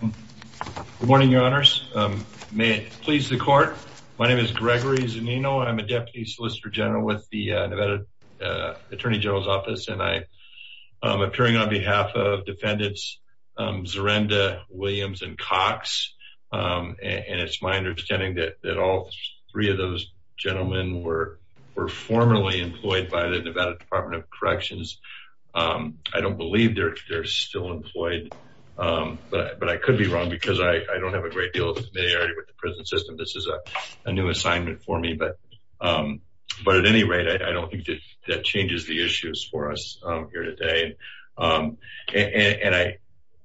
Good morning, your honors. May it please the court. My name is Gregory Zunino. I'm a Deputy Solicitor General with the Nevada Attorney General's Office. And I'm appearing on behalf of defendants, Dzurenda, Williams, and Cox. And it's my understanding that all three of those gentlemen were formerly employed by the Nevada Department of Corrections. I don't believe they're still employed, but I could be wrong because I don't have a great deal of familiarity with the prison system. This is a new assignment for me, but at any rate, I don't think that changes the issues for us here today. And I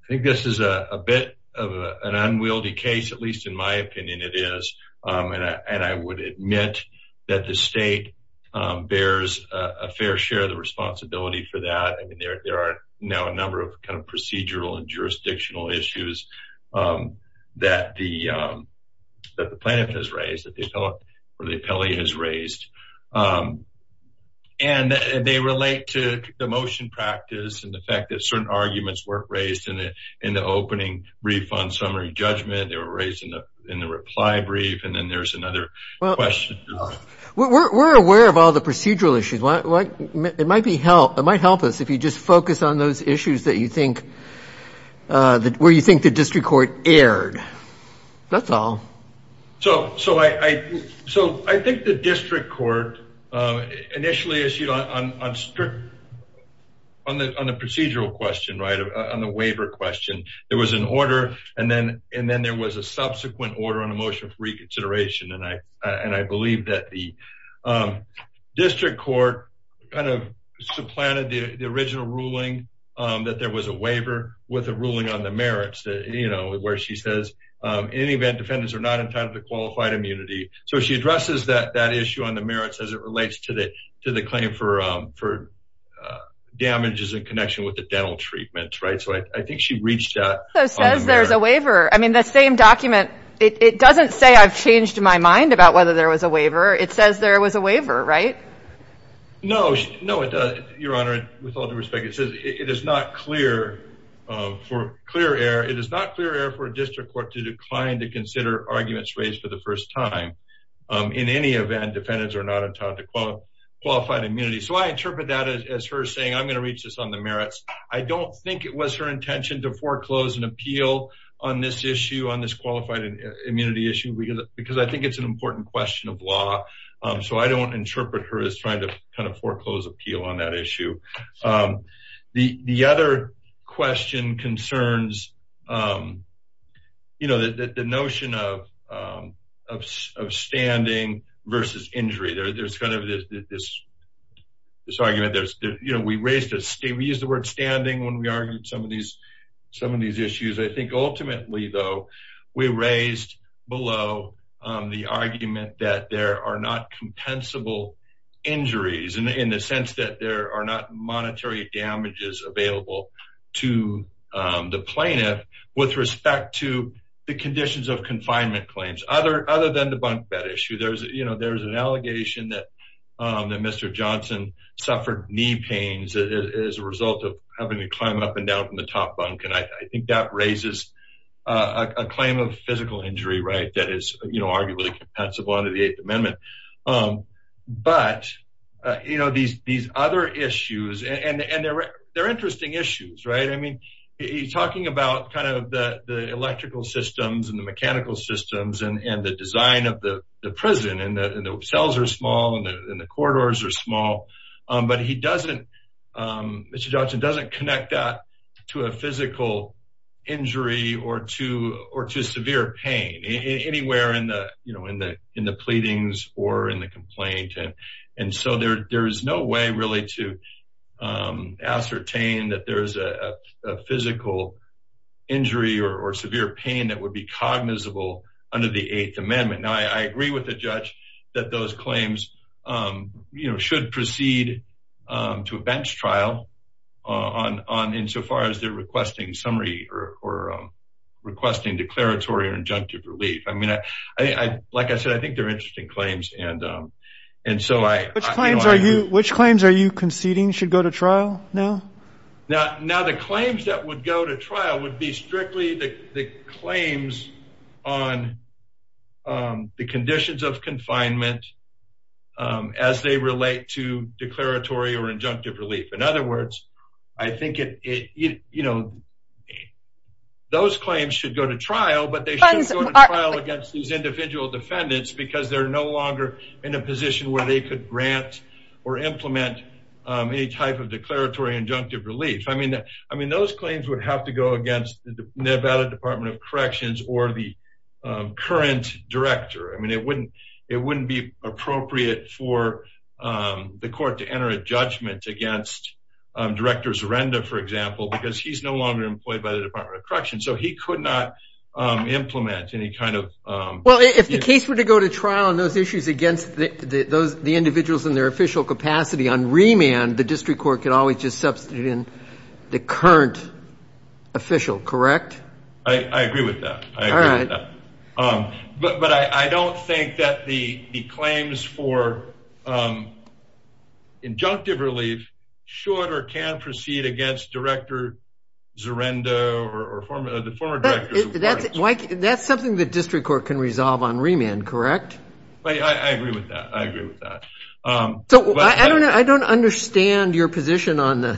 think this is a bit of an unwieldy case, at least in my opinion, it is. And I would admit that the state bears a fair share of the responsibility for that. I mean, there are now a number of kind of procedural and jurisdictional issues that the plaintiff has raised, that the appellate has raised. And they relate to the motion practice and the fact that certain arguments weren't raised in the opening brief on summary judgment. They were raised in the reply brief, and then there's another question. We're aware of all the procedural issues. It might help us if you just focus on those issues that you think, where you think the district court erred. That's all. So I think the district court initially issued on the procedural question, right, on the waiver question, there was an order, and then there was a subsequent order on a motion for reconsideration. And I believe that the district court kind of supplanted the original ruling that there was a waiver with a ruling on the merits, where she says, in any event, defendants are not entitled to qualified immunity. So she addresses that issue on the merits as it relates to the claim for damages in connection with the dental treatments, right? So I think she reached out on the merits. It says there's a waiver. I mean, the same document, it doesn't say I've changed my mind about whether there was a waiver. It says there was a waiver, right? No, no, it does, Your Honor, with all due respect. It says it is not clear for a district court to decline to consider arguments raised for the first time. In any event, defendants are not entitled to qualified immunity. So I interpret that as her saying, I'm gonna reach this on the merits. I don't think it was her intention to foreclose an appeal on this issue, on this qualified immunity issue, because I think it's an important question of law. So I don't interpret her as trying to kind of foreclose appeal on that issue. The other question concerns, you know, the notion of standing versus injury. There's kind of this argument. You know, we used the word standing when we argued some of these issues. I think ultimately, though, we raised below the argument that there are not compensable injuries in the sense that there are not monetary damages available to the plaintiff with respect to the conditions of confinement claims, other than the bunk bed issue. There's an allegation that Mr. Johnson suffered knee pains as a result of having to climb up and down from the top bunk. And I think that raises a claim of physical injury, right? That is, you know, arguably compensable under the Eighth Amendment. But, you know, these other issues, and they're interesting issues, right? I mean, he's talking about kind of the electrical systems and the mechanical systems and the design of the prison and the cells are small and the corridors are small, but he doesn't, Mr. Johnson doesn't connect that to a physical injury or to severe pain, anywhere in the pleadings or in the complaint. And so there is no way really to ascertain that there is a physical injury or severe pain that would be cognizable under the Eighth Amendment. Now, I agree with the judge that those claims, you know, insofar as they're requesting summary or requesting declaratory or injunctive relief. I mean, like I said, I think they're interesting claims. And so I- Which claims are you conceding should go to trial now? Now, the claims that would go to trial would be strictly the claims on the conditions of confinement as they relate to declaratory or injunctive relief. In other words, I think it, you know, those claims should go to trial, but they shouldn't go to trial against these individual defendants because they're no longer in a position where they could grant or implement any type of declaratory injunctive relief. I mean, those claims would have to go against the Nevada Department of Corrections or the current director. I mean, it wouldn't be appropriate for the court to enter a judgment against Director Zerenda, for example, because he's no longer employed by the Department of Correction. So he could not implement any kind of- Well, if the case were to go to trial on those issues against the individuals in their official capacity on remand, the district court could always just substitute in the current official, correct? I agree with that. I agree with that. But I don't think that the claims for injunctive relief should or can proceed against Director Zerenda or the former director- That's something the district court can resolve on remand, correct? I agree with that. I agree with that. So I don't understand your position on the,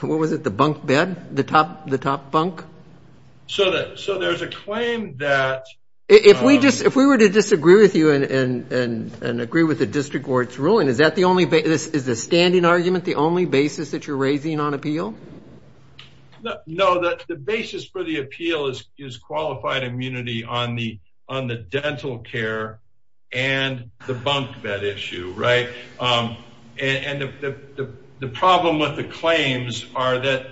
what was it, the bunk bed, the top bunk? So there's a claim that- If we were to disagree with you and agree with the district court's ruling, is that the only, is the standing argument the only basis that you're raising on appeal? No, the basis for the appeal is qualified immunity on the dental care and the bunk bed issue, right? And the problem with the claims are that,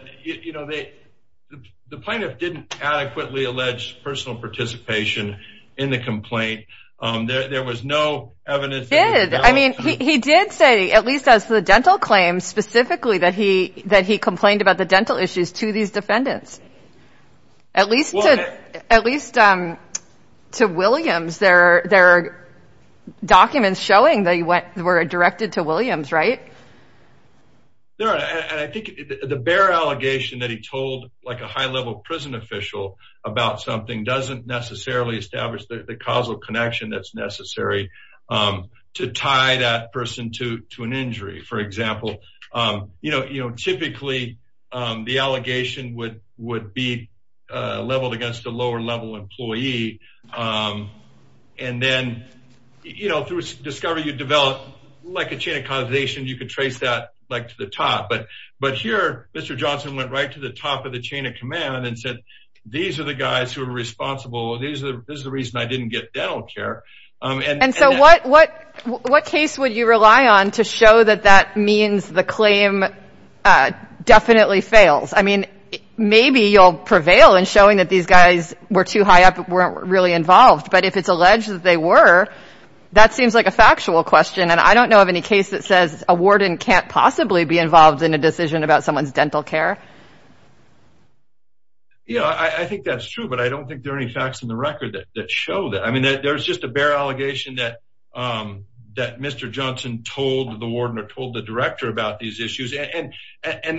the plaintiff didn't adequately allege personal participation in the complaint. There was no evidence- He did. I mean, he did say, at least as the dental claims, specifically that he complained about the dental issues to these defendants. At least to Williams, there are documents showing they were directed to Williams, right? There are, and I think the bare allegation that he told like a high level prison official about something doesn't necessarily establish the causal connection that's necessary to tie that person to an injury. For example, you know, typically the allegation would be leveled against a lower level employee. And then, you know, through discovery, you develop like a chain of causation. You could trace that like to the top, but here, Mr. Johnson went right to the top of the chain of command and said, these are the guys who are responsible. This is the reason I didn't get dental care. And so what case would you rely on to show that that means the claim definitely fails? I mean, maybe you'll prevail in showing that these guys were too high up, but weren't really involved. But if it's alleged that they were, that seems like a factual question. And I don't know of any case that says a warden can't possibly be involved in a decision about someone's dental care. Yeah, I think that's true, but I don't think there are any facts in the record that show that. I mean, there's just a bare allegation that Mr. Johnson told the warden or told the director about these issues. And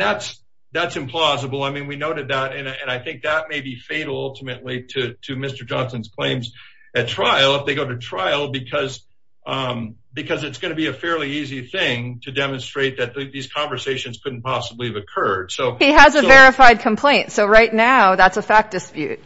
that's implausible. I mean, we noted that, and I think that may be fatal ultimately to Mr. Johnson's claims at trial, if they go to trial, because it's gonna be a fairly easy thing to demonstrate that these conversations couldn't possibly have occurred. So- He has a verified complaint. So right now, that's a fact dispute.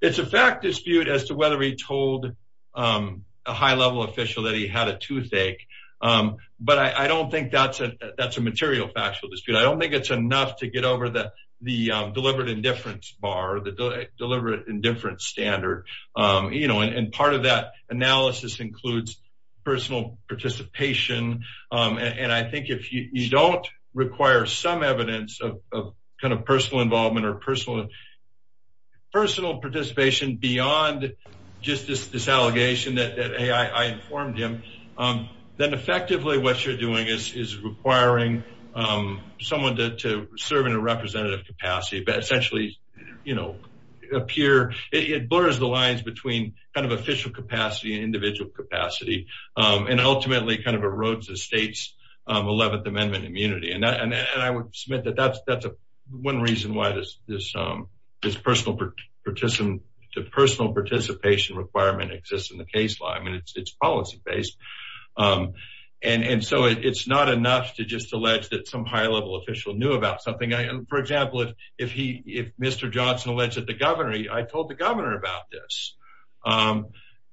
It's a fact dispute as to whether he told a high-level official that he had a toothache. But I don't think that's a material factual dispute. I don't think it's enough to get over the deliberate indifference bar, the deliberate indifference standard. And part of that analysis includes personal participation. And I think if you don't require some evidence of kind of personal involvement or personal participation beyond just this allegation that, hey, I informed him, then effectively what you're doing is requiring someone to serve in a representative capacity, but essentially appear, it blurs the lines between kind of official capacity and individual capacity, and ultimately kind of erodes the state's 11th Amendment immunity. And I would submit that that's one reason why this personal participation requirement exists in the case law. I mean, it's policy-based. And so it's not enough to just allege that some high-level official knew about something. For example, if Mr. Johnson alleged that the governor, I told the governor about this.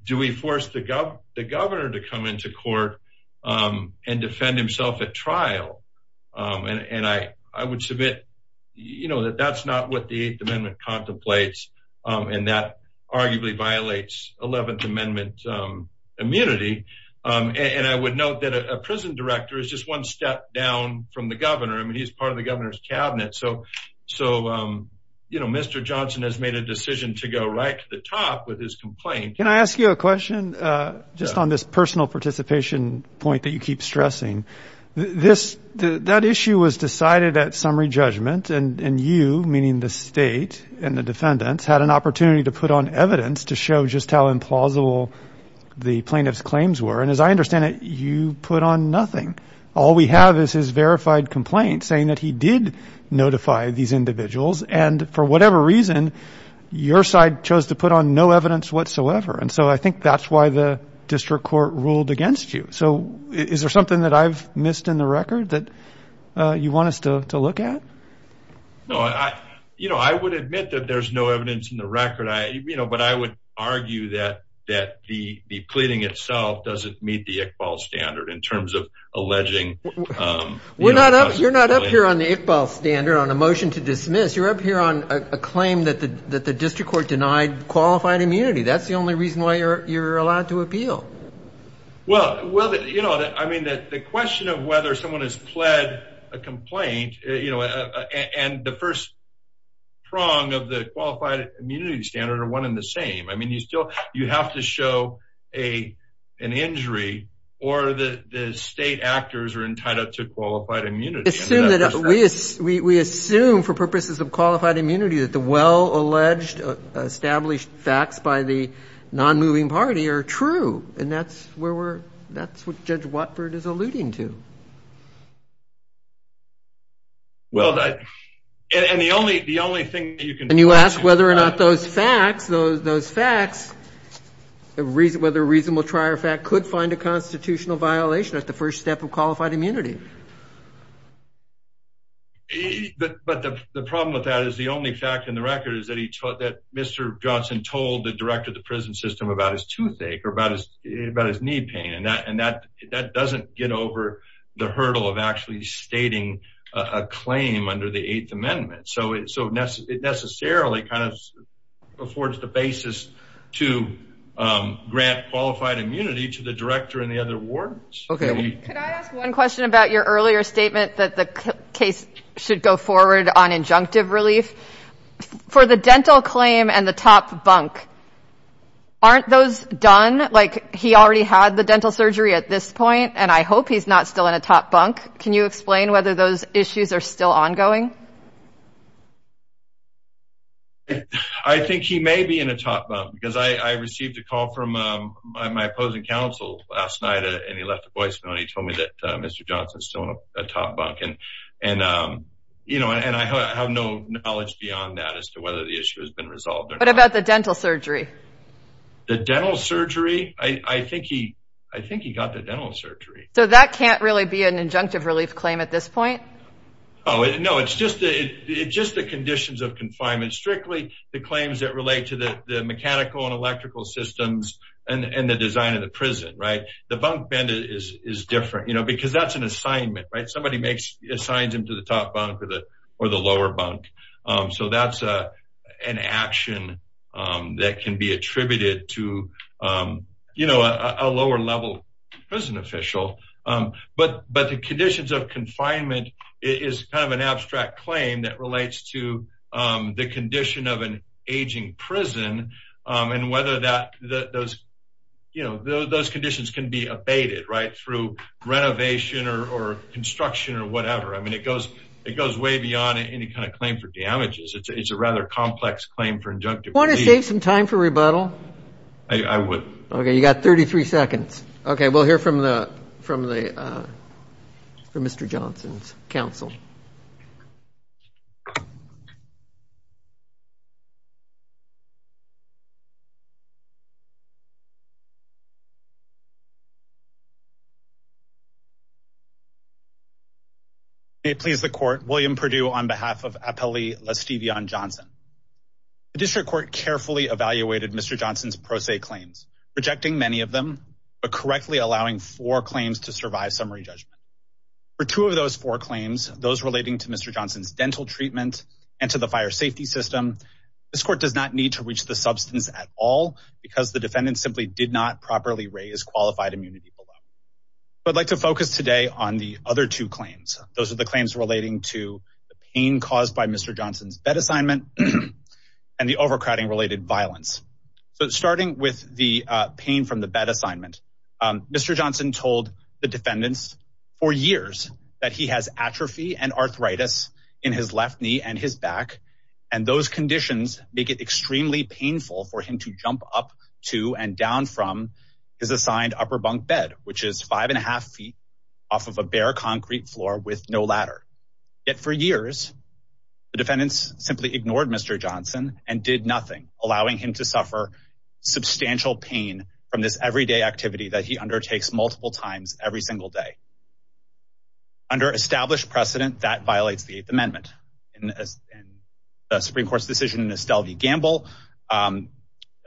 Do we force the governor to come into court and defend himself at trial? And I would submit that that's not what the 8th Amendment contemplates, and that arguably violates 11th Amendment immunity. And I would note that a prison director is just one step down from the governor. I mean, he's part of the governor's cabinet. So Mr. Johnson has made a decision to go right to the top with his complaint. Can I ask you a question just on this personal participation point that you keep stressing? That issue was decided at summary judgment, and you, meaning the state and the defendants, had an opportunity to put on evidence to show just how implausible the plaintiff's claims were. And as I understand it, you put on nothing. All we have is his verified complaint saying that he did notify these individuals. And for whatever reason, your side chose to put on no evidence whatsoever. And so I think that's why the district court ruled against you. So is there something that I've missed in the record that you want us to look at? No, I would admit that there's no evidence in the record. But I would argue that the pleading itself doesn't meet the Iqbal standard in terms of alleging... You're not up here on the Iqbal standard, on a motion to dismiss. You're up here on a claim that the district court denied qualified immunity. That's the only reason why you're allowed to appeal. Well, I mean, the question of whether someone has pled a complaint and the first prong of the qualified immunity standard are one and the same. I mean, you have to show an injury or the state actors are tied up to qualified immunity. We assume for purposes of qualified immunity that the well-alleged established facts by the non-moving party are true. And that's what Judge Watford is alluding to. Well, and the only thing that you can... And you ask whether or not those facts, those facts, whether reasonable trier fact could find a constitutional violation at the first step of qualified immunity. But the problem with that is the only fact in the record is that Mr. Johnson told the director of the prison system about his toothache or about his knee pain. And that doesn't get over the hurdle of actually stating a claim under the Eighth Amendment. So it necessarily kind of affords the basis to grant qualified immunity to the director and the other wardens. Okay. Could I ask one question about your earlier statement that the case should go forward on injunctive relief. For the dental claim and the top bunk, aren't those done? Like he already had the dental surgery at this point and I hope he's not still in a top bunk. Can you explain whether those issues are still ongoing? I think he may be in a top bunk because I received a call from my opposing counsel last night and he left a voicemail and he told me that Mr. Johnson's still in a top bunk. And I have no knowledge beyond that as to whether the issue has been resolved or not. What about the dental surgery? The dental surgery? I think he got the dental surgery. So that can't really be an injunctive relief claim at this point? Oh, no, it's just the conditions of confinement. Strictly the claims that relate to the mechanical and electrical systems and the design of the prison, right? The bunk bed is different, because that's an assignment, right? Somebody assigns him to the top bunk or the lower bunk. So that's an action that can be attributed to a lower level prison official. But the conditions of confinement is kind of an abstract claim that relates to the condition of an aging prison and whether those conditions can be abated, right? Through renovation or construction or whatever. I mean, it goes way beyond any kind of claim for damages. It's a rather complex claim for injunctive relief. Do you want to save some time for rebuttal? I would. Okay, you got 33 seconds. Okay, we'll hear from Mr. Johnson's counsel. Thank you. May it please the court, William Perdue on behalf of Appellee LaStevion Johnson. The district court carefully evaluated Mr. Johnson's pro se claims, rejecting many of them, but correctly allowing four claims to survive summary judgment. For two of those four claims, those relating to Mr. Johnson's dental treatment and to the fire safety system, this court does not need to reach the substance at all because the defendant simply did not properly raise qualified immunity below. But I'd like to focus today on the other two claims. Those are the claims relating to the pain caused by Mr. Johnson's bed assignment and the overcrowding related violence. So starting with the pain from the bed assignment, Mr. Johnson told the defendants for years that he has atrophy and arthritis in his left knee and his back. And those conditions make it extremely painful for him to jump up to and down from his assigned upper bunk bed, which is five and a half feet off of a bare concrete floor with no ladder. Yet for years, the defendants simply ignored Mr. Johnson and did nothing, allowing him to suffer substantial pain from this everyday activity that he undertakes multiple times every single day. Under established precedent, that violates the Eighth Amendment. In the Supreme Court's decision in Estelle v. Gamble,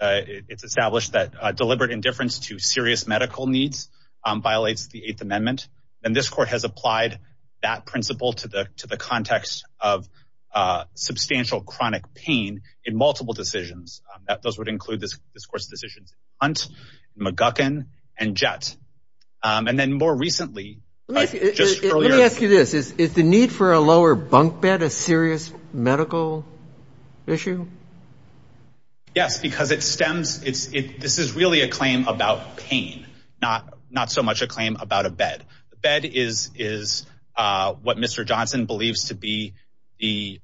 it's established that deliberate indifference to serious medical needs violates the Eighth Amendment. And this court has applied that principle to the context of substantial chronic pain in multiple decisions. Those would include this court's decisions in Hunt, McGuckin, and Jett. And then more recently, just earlier- Is the need for a lower bunk bed a serious medical issue? Yes, because it stems, this is really a claim about pain, not so much a claim about a bed. The bed is what Mr. Johnson believes to be the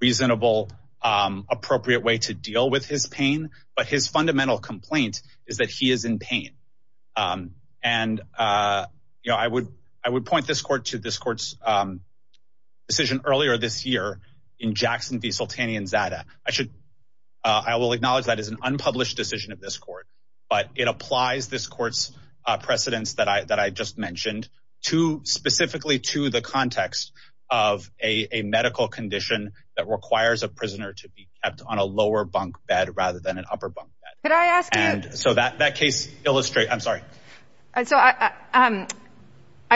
reasonable, appropriate way to deal with his pain. But his fundamental complaint is that he is in pain. And I would point this court to this court's decision earlier this year in Jackson v. Sultani and Zada. I will acknowledge that is an unpublished decision of this court, but it applies this court's precedents that I just mentioned specifically to the context of a medical condition that requires a prisoner to be kept on a lower bunk bed rather than an upper bunk bed. Could I ask you- So that case illustrates, I'm sorry. I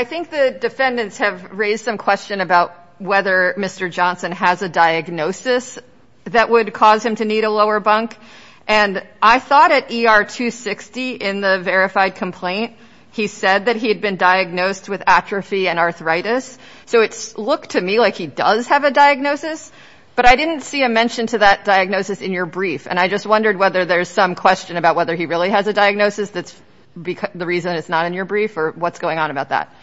think the defendants have raised some question about whether Mr. Johnson has a diagnosis that would cause him to need a lower bunk. And I thought at ER 260 in the verified complaint, he said that he had been diagnosed with atrophy and arthritis. So it's looked to me like he does have a diagnosis, but I didn't see a mention to that diagnosis in your brief. And I just wondered whether there's some question about whether he really has a diagnosis that's the reason it's not in your brief or what's going on about that.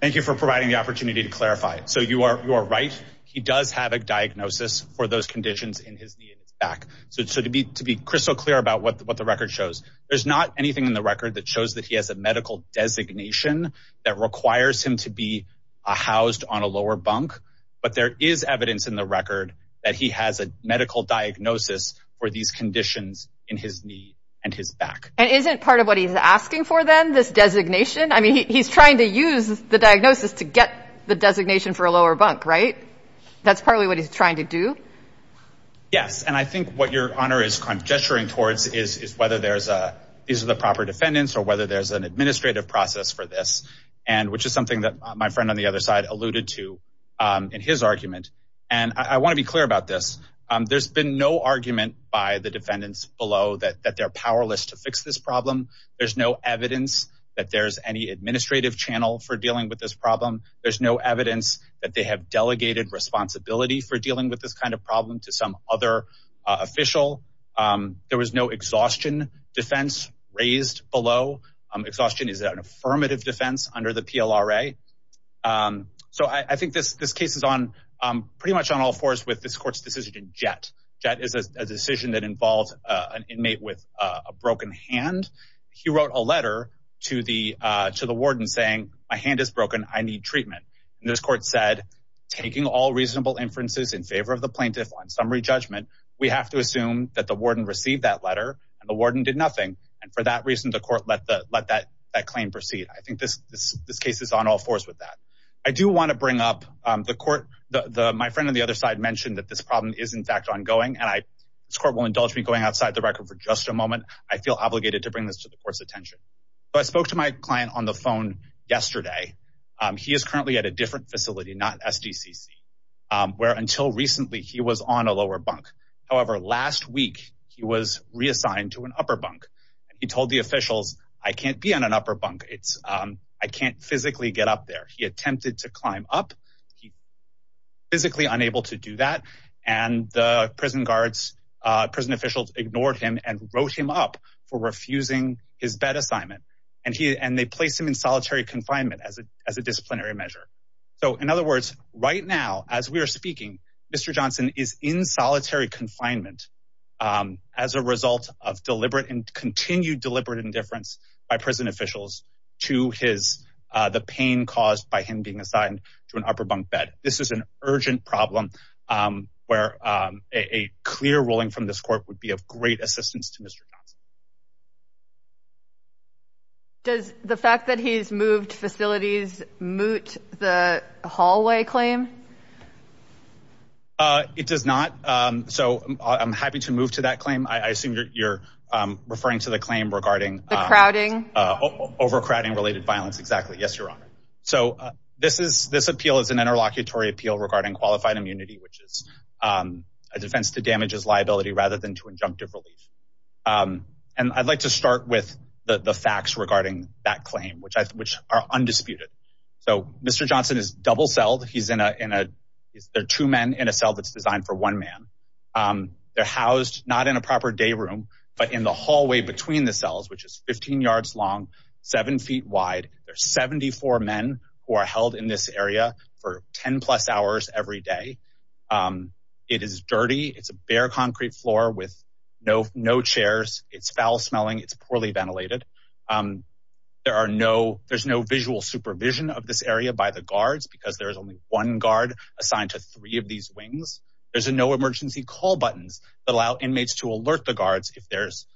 Thank you for providing the opportunity to clarify. So you are right. He does have a diagnosis for those conditions in his knee and his back. So to be crystal clear about what the record shows, there's not anything in the record that shows that he has a medical designation that requires him to be housed on a lower bunk, but there is evidence in the record that he has a medical diagnosis for these conditions in his knee and his back. And isn't part of what he's asking for then, this designation? I mean, he's trying to use the diagnosis to get the designation for a lower bunk, right? That's probably what he's trying to do. Yes, and I think what your honor is gesturing towards is whether these are the proper defendants or whether there's an administrative process for this, and which is something that my friend on the other side alluded to in his argument. And I wanna be clear about this. There's been no argument by the defendants below that they're powerless to fix this problem. There's no evidence that there's any administrative channel for dealing with this problem. There's no evidence that they have delegated responsibility for dealing with this kind of problem to some other official. There was no exhaustion defense raised below. Exhaustion is an affirmative defense under the PLRA. So I think this case is pretty much on all fours with this court's decision in Jett. Jett is a decision that involves an inmate with a broken hand. He wrote a letter to the warden saying, my hand is broken, I need treatment. And this court said, taking all reasonable inferences in favor of the plaintiff on summary judgment, we have to assume that the warden received that letter and the warden did nothing. And for that reason, the court let that claim proceed. I think this case is on all fours with that. I do wanna bring up the court, my friend on the other side mentioned that this problem is in fact ongoing and this court will indulge me going outside the record for just a moment. I feel obligated to bring this to the court's attention. So I spoke to my client on the phone yesterday. He is currently at a different facility, not SDCC, where until recently he was on a lower bunk. However, last week he was reassigned to an upper bunk. He told the officials, I can't be on an upper bunk. I can't physically get up there. He attempted to climb up. He physically unable to do that. And the prison guards, prison officials ignored him and wrote him up for refusing his bed assignment. And they placed him in solitary confinement as a disciplinary measure. So in other words, right now, as we are speaking, Mr. Johnson is in solitary confinement as a result of deliberate and continued deliberate indifference by prison officials to the pain caused by him being assigned to an upper bunk bed. This is an urgent problem where a clear ruling from this court would be of great assistance to Mr. Johnson. Does the fact that he's moved facilities moot the hallway claim? It does not. So I'm happy to move to that claim. I assume you're referring to the claim regarding- The crowding. Overcrowding related violence, exactly. Yes, Your Honor. So this appeal is an interlocutory appeal regarding qualified immunity, which is a defense to damages liability rather than to injunctive relief. And I'd like to start with the facts regarding that claim, which are undisputed. So Mr. Johnson is double-celled. He's in a, there are two men in a cell that's designed for one man. They're housed not in a proper day room, but in the hallway between the cells, which is 15 yards long, seven feet wide. There's 74 men who are held in this area for 10 plus hours every day. It is dirty. It's a bare concrete floor with no chairs. It's foul smelling. It's poorly ventilated. There are no, there's no visual supervision of this area by the guards because there's only one guard assigned to three of these wings. There's no emergency call buttons if there's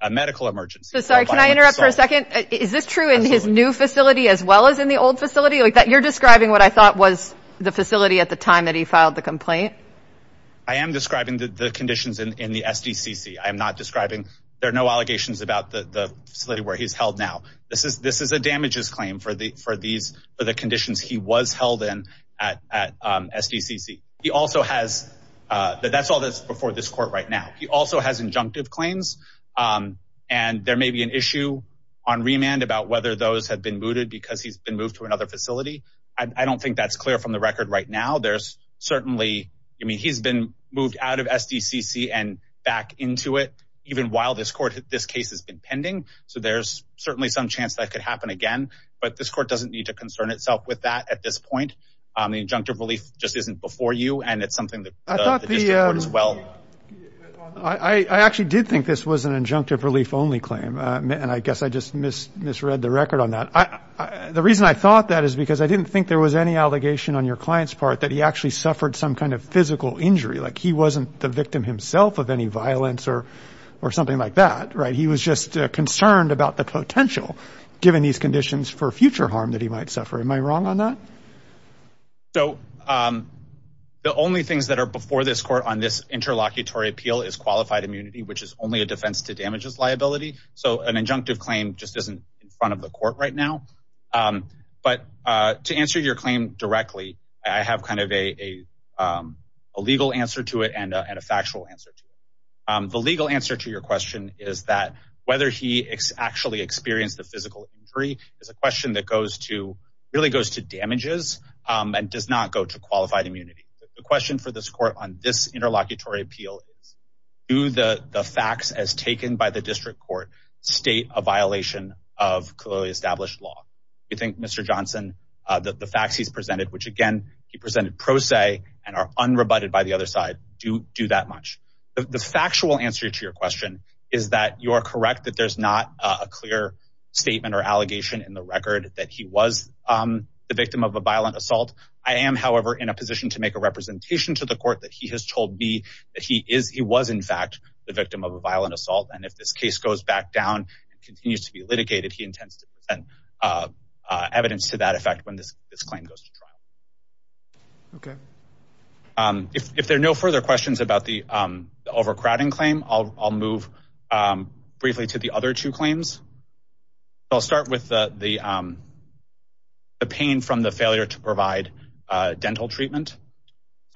a medical emergency. So sorry, can I interrupt for a second? Is this true in his new facility as well as in the old facility? You're describing what I thought was the facility at the time that he filed the complaint. I am describing the conditions in the SDCC. I am not describing, there are no allegations about the facility where he's held now. This is a damages claim for the conditions he was held in at SDCC. He also has, that's all that's before this court right now. He also has injunctive claims and there may be an issue on remand about whether those have been mooted because he's been moved to another facility. I don't think that's clear from the record right now. There's certainly, I mean, he's been moved out of SDCC and back into it even while this court, this case has been pending. So there's certainly some chance that could happen again but this court doesn't need to concern itself with that at this point. The injunctive relief just isn't before you and it's something that the district court as well. I actually did think this was an injunctive relief only claim and I guess I just misread the record on that. The reason I thought that is because I didn't think there was any allegation on your client's part that he actually suffered some kind of physical injury. Like he wasn't the victim himself of any violence or something like that, right? He was just concerned about the potential given these conditions for future harm that he might suffer. Am I wrong on that? So the only things that are before this court on this interlocutory appeal is qualified immunity, which is only a defense to damages liability. So an injunctive claim just isn't in front of the court right now, but to answer your claim directly, I have kind of a legal answer to it and a factual answer to it. The legal answer to your question is that whether he actually experienced the physical injury is a question that really goes to damages and does not go to qualified immunity. The question for this court on this interlocutory appeal is do the facts as taken by the district court state a violation of clearly established law? You think Mr. Johnson, the facts he's presented, which again, he presented pro se and are unrebutted by the other side, do that much? The factual answer to your question is that you are correct that there's not a clear statement or allegation in the record that he was the victim of a violent assault. I am, however, in a position to make a representation to the court that he has told me that he is, he was in fact, the victim of a violent assault. And if this case goes back down and continues to be litigated, he intends to present evidence to that effect when this claim goes to trial. Okay. If there are no further questions about the overcrowding claim, I'll move briefly to the other two claims. I'll start with the pain from the failure to provide dental treatment.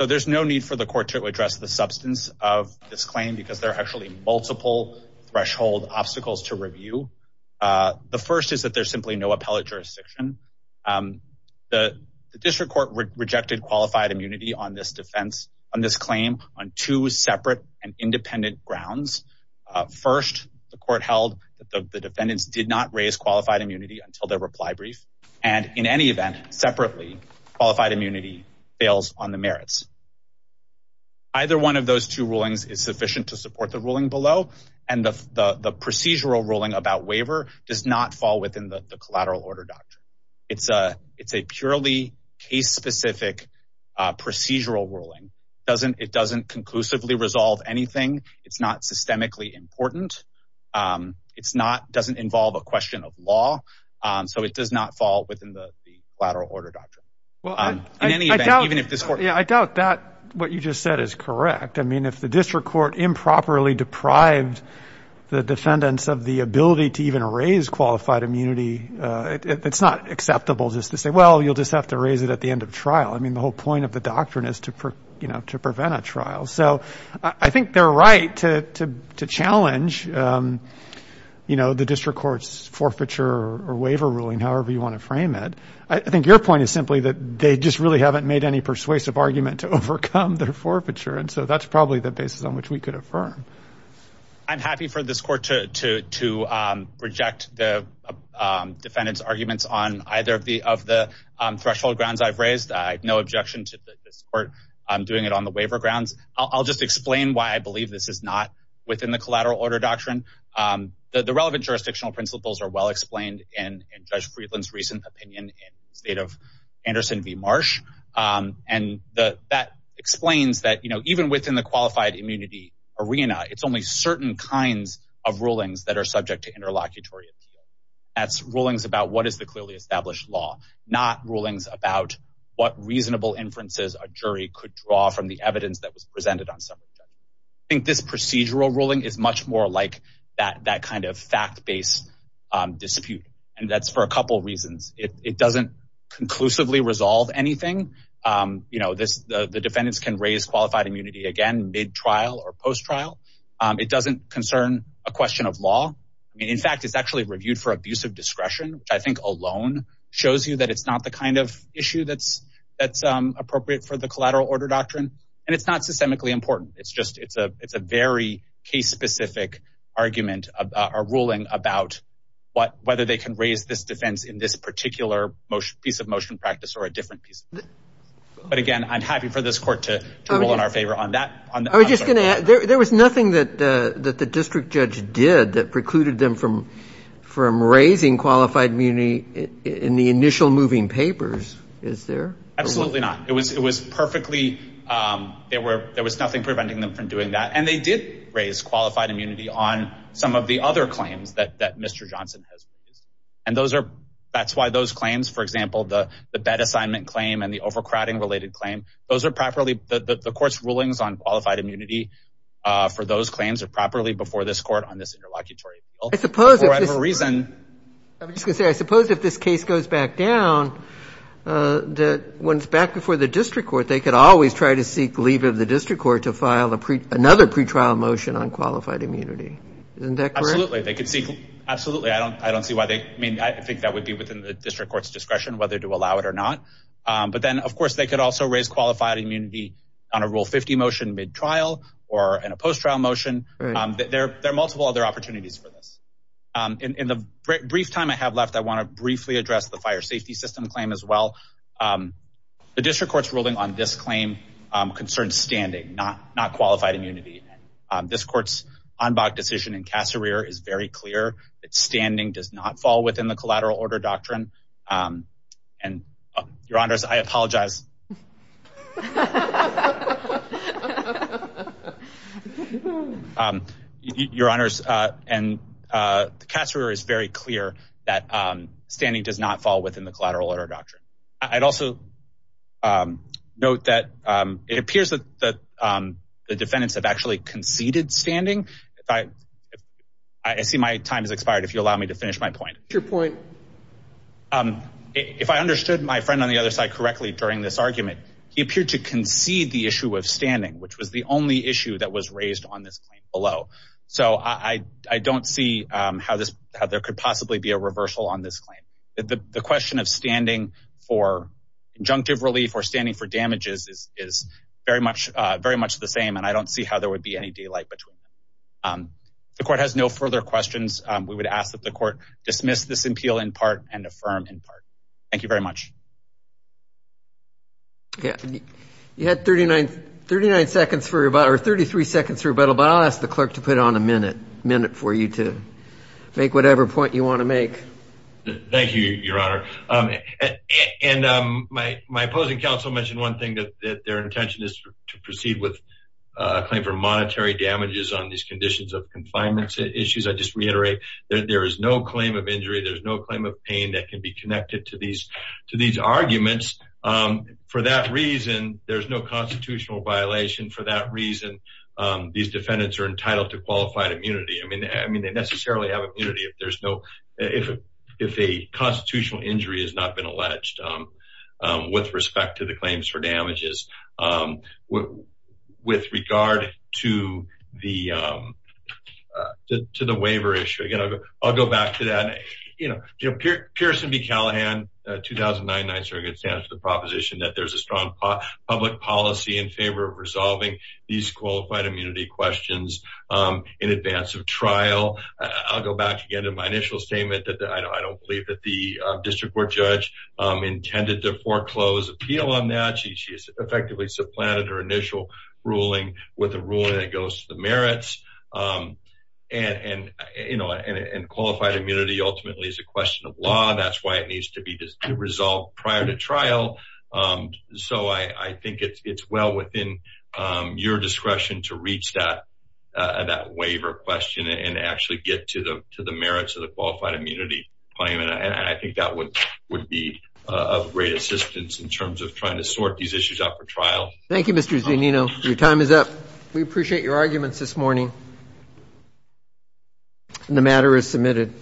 So there's no need for the court to address the substance of this claim because there are actually multiple threshold obstacles to review. The first is that there's simply no appellate jurisdiction. The district court rejected qualified immunity on this defense, on this claim, on two separate and independent grounds. First, the court held that the defendants did not raise qualified immunity until their reply brief. And in any event, separately, qualified immunity fails on the merits. Either one of those two rulings is sufficient to support the ruling below. And the procedural ruling about waiver does not fall within the collateral order doctrine. It's a purely case-specific procedural ruling. It doesn't conclusively resolve anything. It's not systemically important. It's not, doesn't involve a question of law. So it does not fall within the collateral order doctrine. Well, in any event, even if this court- Yeah, I doubt that what you just said is correct. I mean, if the district court improperly deprived the defendants of the ability to even raise qualified immunity, it's not acceptable just to say, well, you'll just have to raise it at the end of trial. I mean, the whole point of the doctrine is to prevent a trial. So I think they're right to challenge the district court's forfeiture or waiver ruling, however you want to frame it. I think your point is simply that they just really haven't made any persuasive argument to overcome their forfeiture. And so that's probably the basis on which we could affirm. I'm happy for this court to reject the defendant's arguments on either of the threshold grounds I've raised. I have no objection to this court doing it on the waiver grounds. I'll just explain why I believe this is not within the collateral order doctrine. The relevant jurisdictional principles are well-explained in Judge Friedland's recent opinion in the state of Anderson v. Marsh. And that explains that even within the qualified immunity arena, it's only certain kinds of rulings that are subject to interlocutory appeal. That's rulings about what is the clearly established law, not rulings about what reasonable inferences a jury could draw from the evidence that was presented on some of them. I think this procedural ruling is much more like that kind of fact-based dispute. And that's for a couple reasons. It doesn't conclusively resolve anything. The defendants can raise qualified immunity again, mid-trial or post-trial. It doesn't concern a question of law. I mean, in fact, it's actually reviewed for abuse of discretion, which I think alone shows you that it's not the kind of issue that's appropriate for the collateral order doctrine. And it's not systemically important. It's a very case-specific argument or ruling about whether they can raise this defense in this particular piece of motion practice or a different piece. But again, I'm happy for this court to rule in our favor on that. I was just gonna add, there was nothing that the district judge did that precluded them from raising qualified immunity in the initial moving papers, is there? Absolutely not. It was perfectly, there was nothing preventing them from doing that. And they did raise qualified immunity on some of the other claims that Mr. Johnson has raised. And that's why those claims, for example, the bed assignment claim and the overcrowding-related claim, those are properly, the court's rulings on qualified immunity for those claims are properly before this court on this interlocutory bill. I suppose if this- For whatever reason. I was just gonna say, I suppose if this case goes back down, that when it's back before the district court, they could always try to seek leave of the district court to file another pretrial motion on qualified immunity. Isn't that correct? Absolutely, they could seek, absolutely, I don't see why they, I mean, I think that would be within the district court's discretion, whether to allow it or not. But then, of course, they could also raise qualified immunity on a Rule 50 motion mid-trial or in a post-trial motion. There are multiple other opportunities for this. In the brief time I have left, I wanna briefly address the fire safety system claim as well. The district court's ruling on this claim concerns standing, not qualified immunity. This court's en banc decision in Cassereer is very clear that standing does not fall within the collateral order doctrine. And, your honors, I apologize. Your honors, and the Cassereer is very clear that standing does not fall within the collateral order doctrine. I'd also note that it appears that the defendants have actually conceded standing. I see my time has expired, if you'll allow me to finish my point. Your point. If I understood my friend on the other side correctly during this argument, he appeared to concede the issue of standing, which was the only issue that was raised on this claim below. So, I don't see how there could possibly be a reversal on this claim. The question of standing for injunctive relief or standing for damages is very much the same, and I don't see how there would be any daylight between them. The court has no further questions. We would ask that the court dismiss this appeal in part and affirm in part. Thank you very much. You had 39 seconds for, or 33 seconds for rebuttal, but I'll ask the clerk to put on a minute, minute for you to make whatever point you wanna make. Thank you, your honor. And my opposing counsel mentioned one thing that their intention is to proceed with a claim for monetary damages on these conditions of confinement issues. I just reiterate that there is no claim of injury. There's no claim of pain that can be connected to these arguments. For that reason, there's no constitutional violation. For that reason, these defendants are entitled to qualified immunity. I mean, I mean, they necessarily have immunity if there's no, if a constitutional injury has not been alleged with respect to the claims for damages. With regard to the waiver issue, again, I'll go back to that. You know, Pearson v. Callahan, 2009, 9th Circuit stands to the proposition that there's a strong public policy in favor of resolving these qualified immunity questions in advance of trial. I'll go back again to my initial statement that I don't believe that the district court judge intended to foreclose appeal on that. She has effectively supplanted her initial ruling with a ruling that goes to the merits. And, you know, and qualified immunity ultimately is a question of law. That's why it needs to be resolved prior to trial. So I think it's well within your discretion to reach that waiver question and actually get to the merits of the qualified immunity claim. And I think that would be of great assistance in terms of trying to sort these issues out for trial. Thank you, Mr. Zanino. We appreciate your arguments this morning. And the matter is submitted.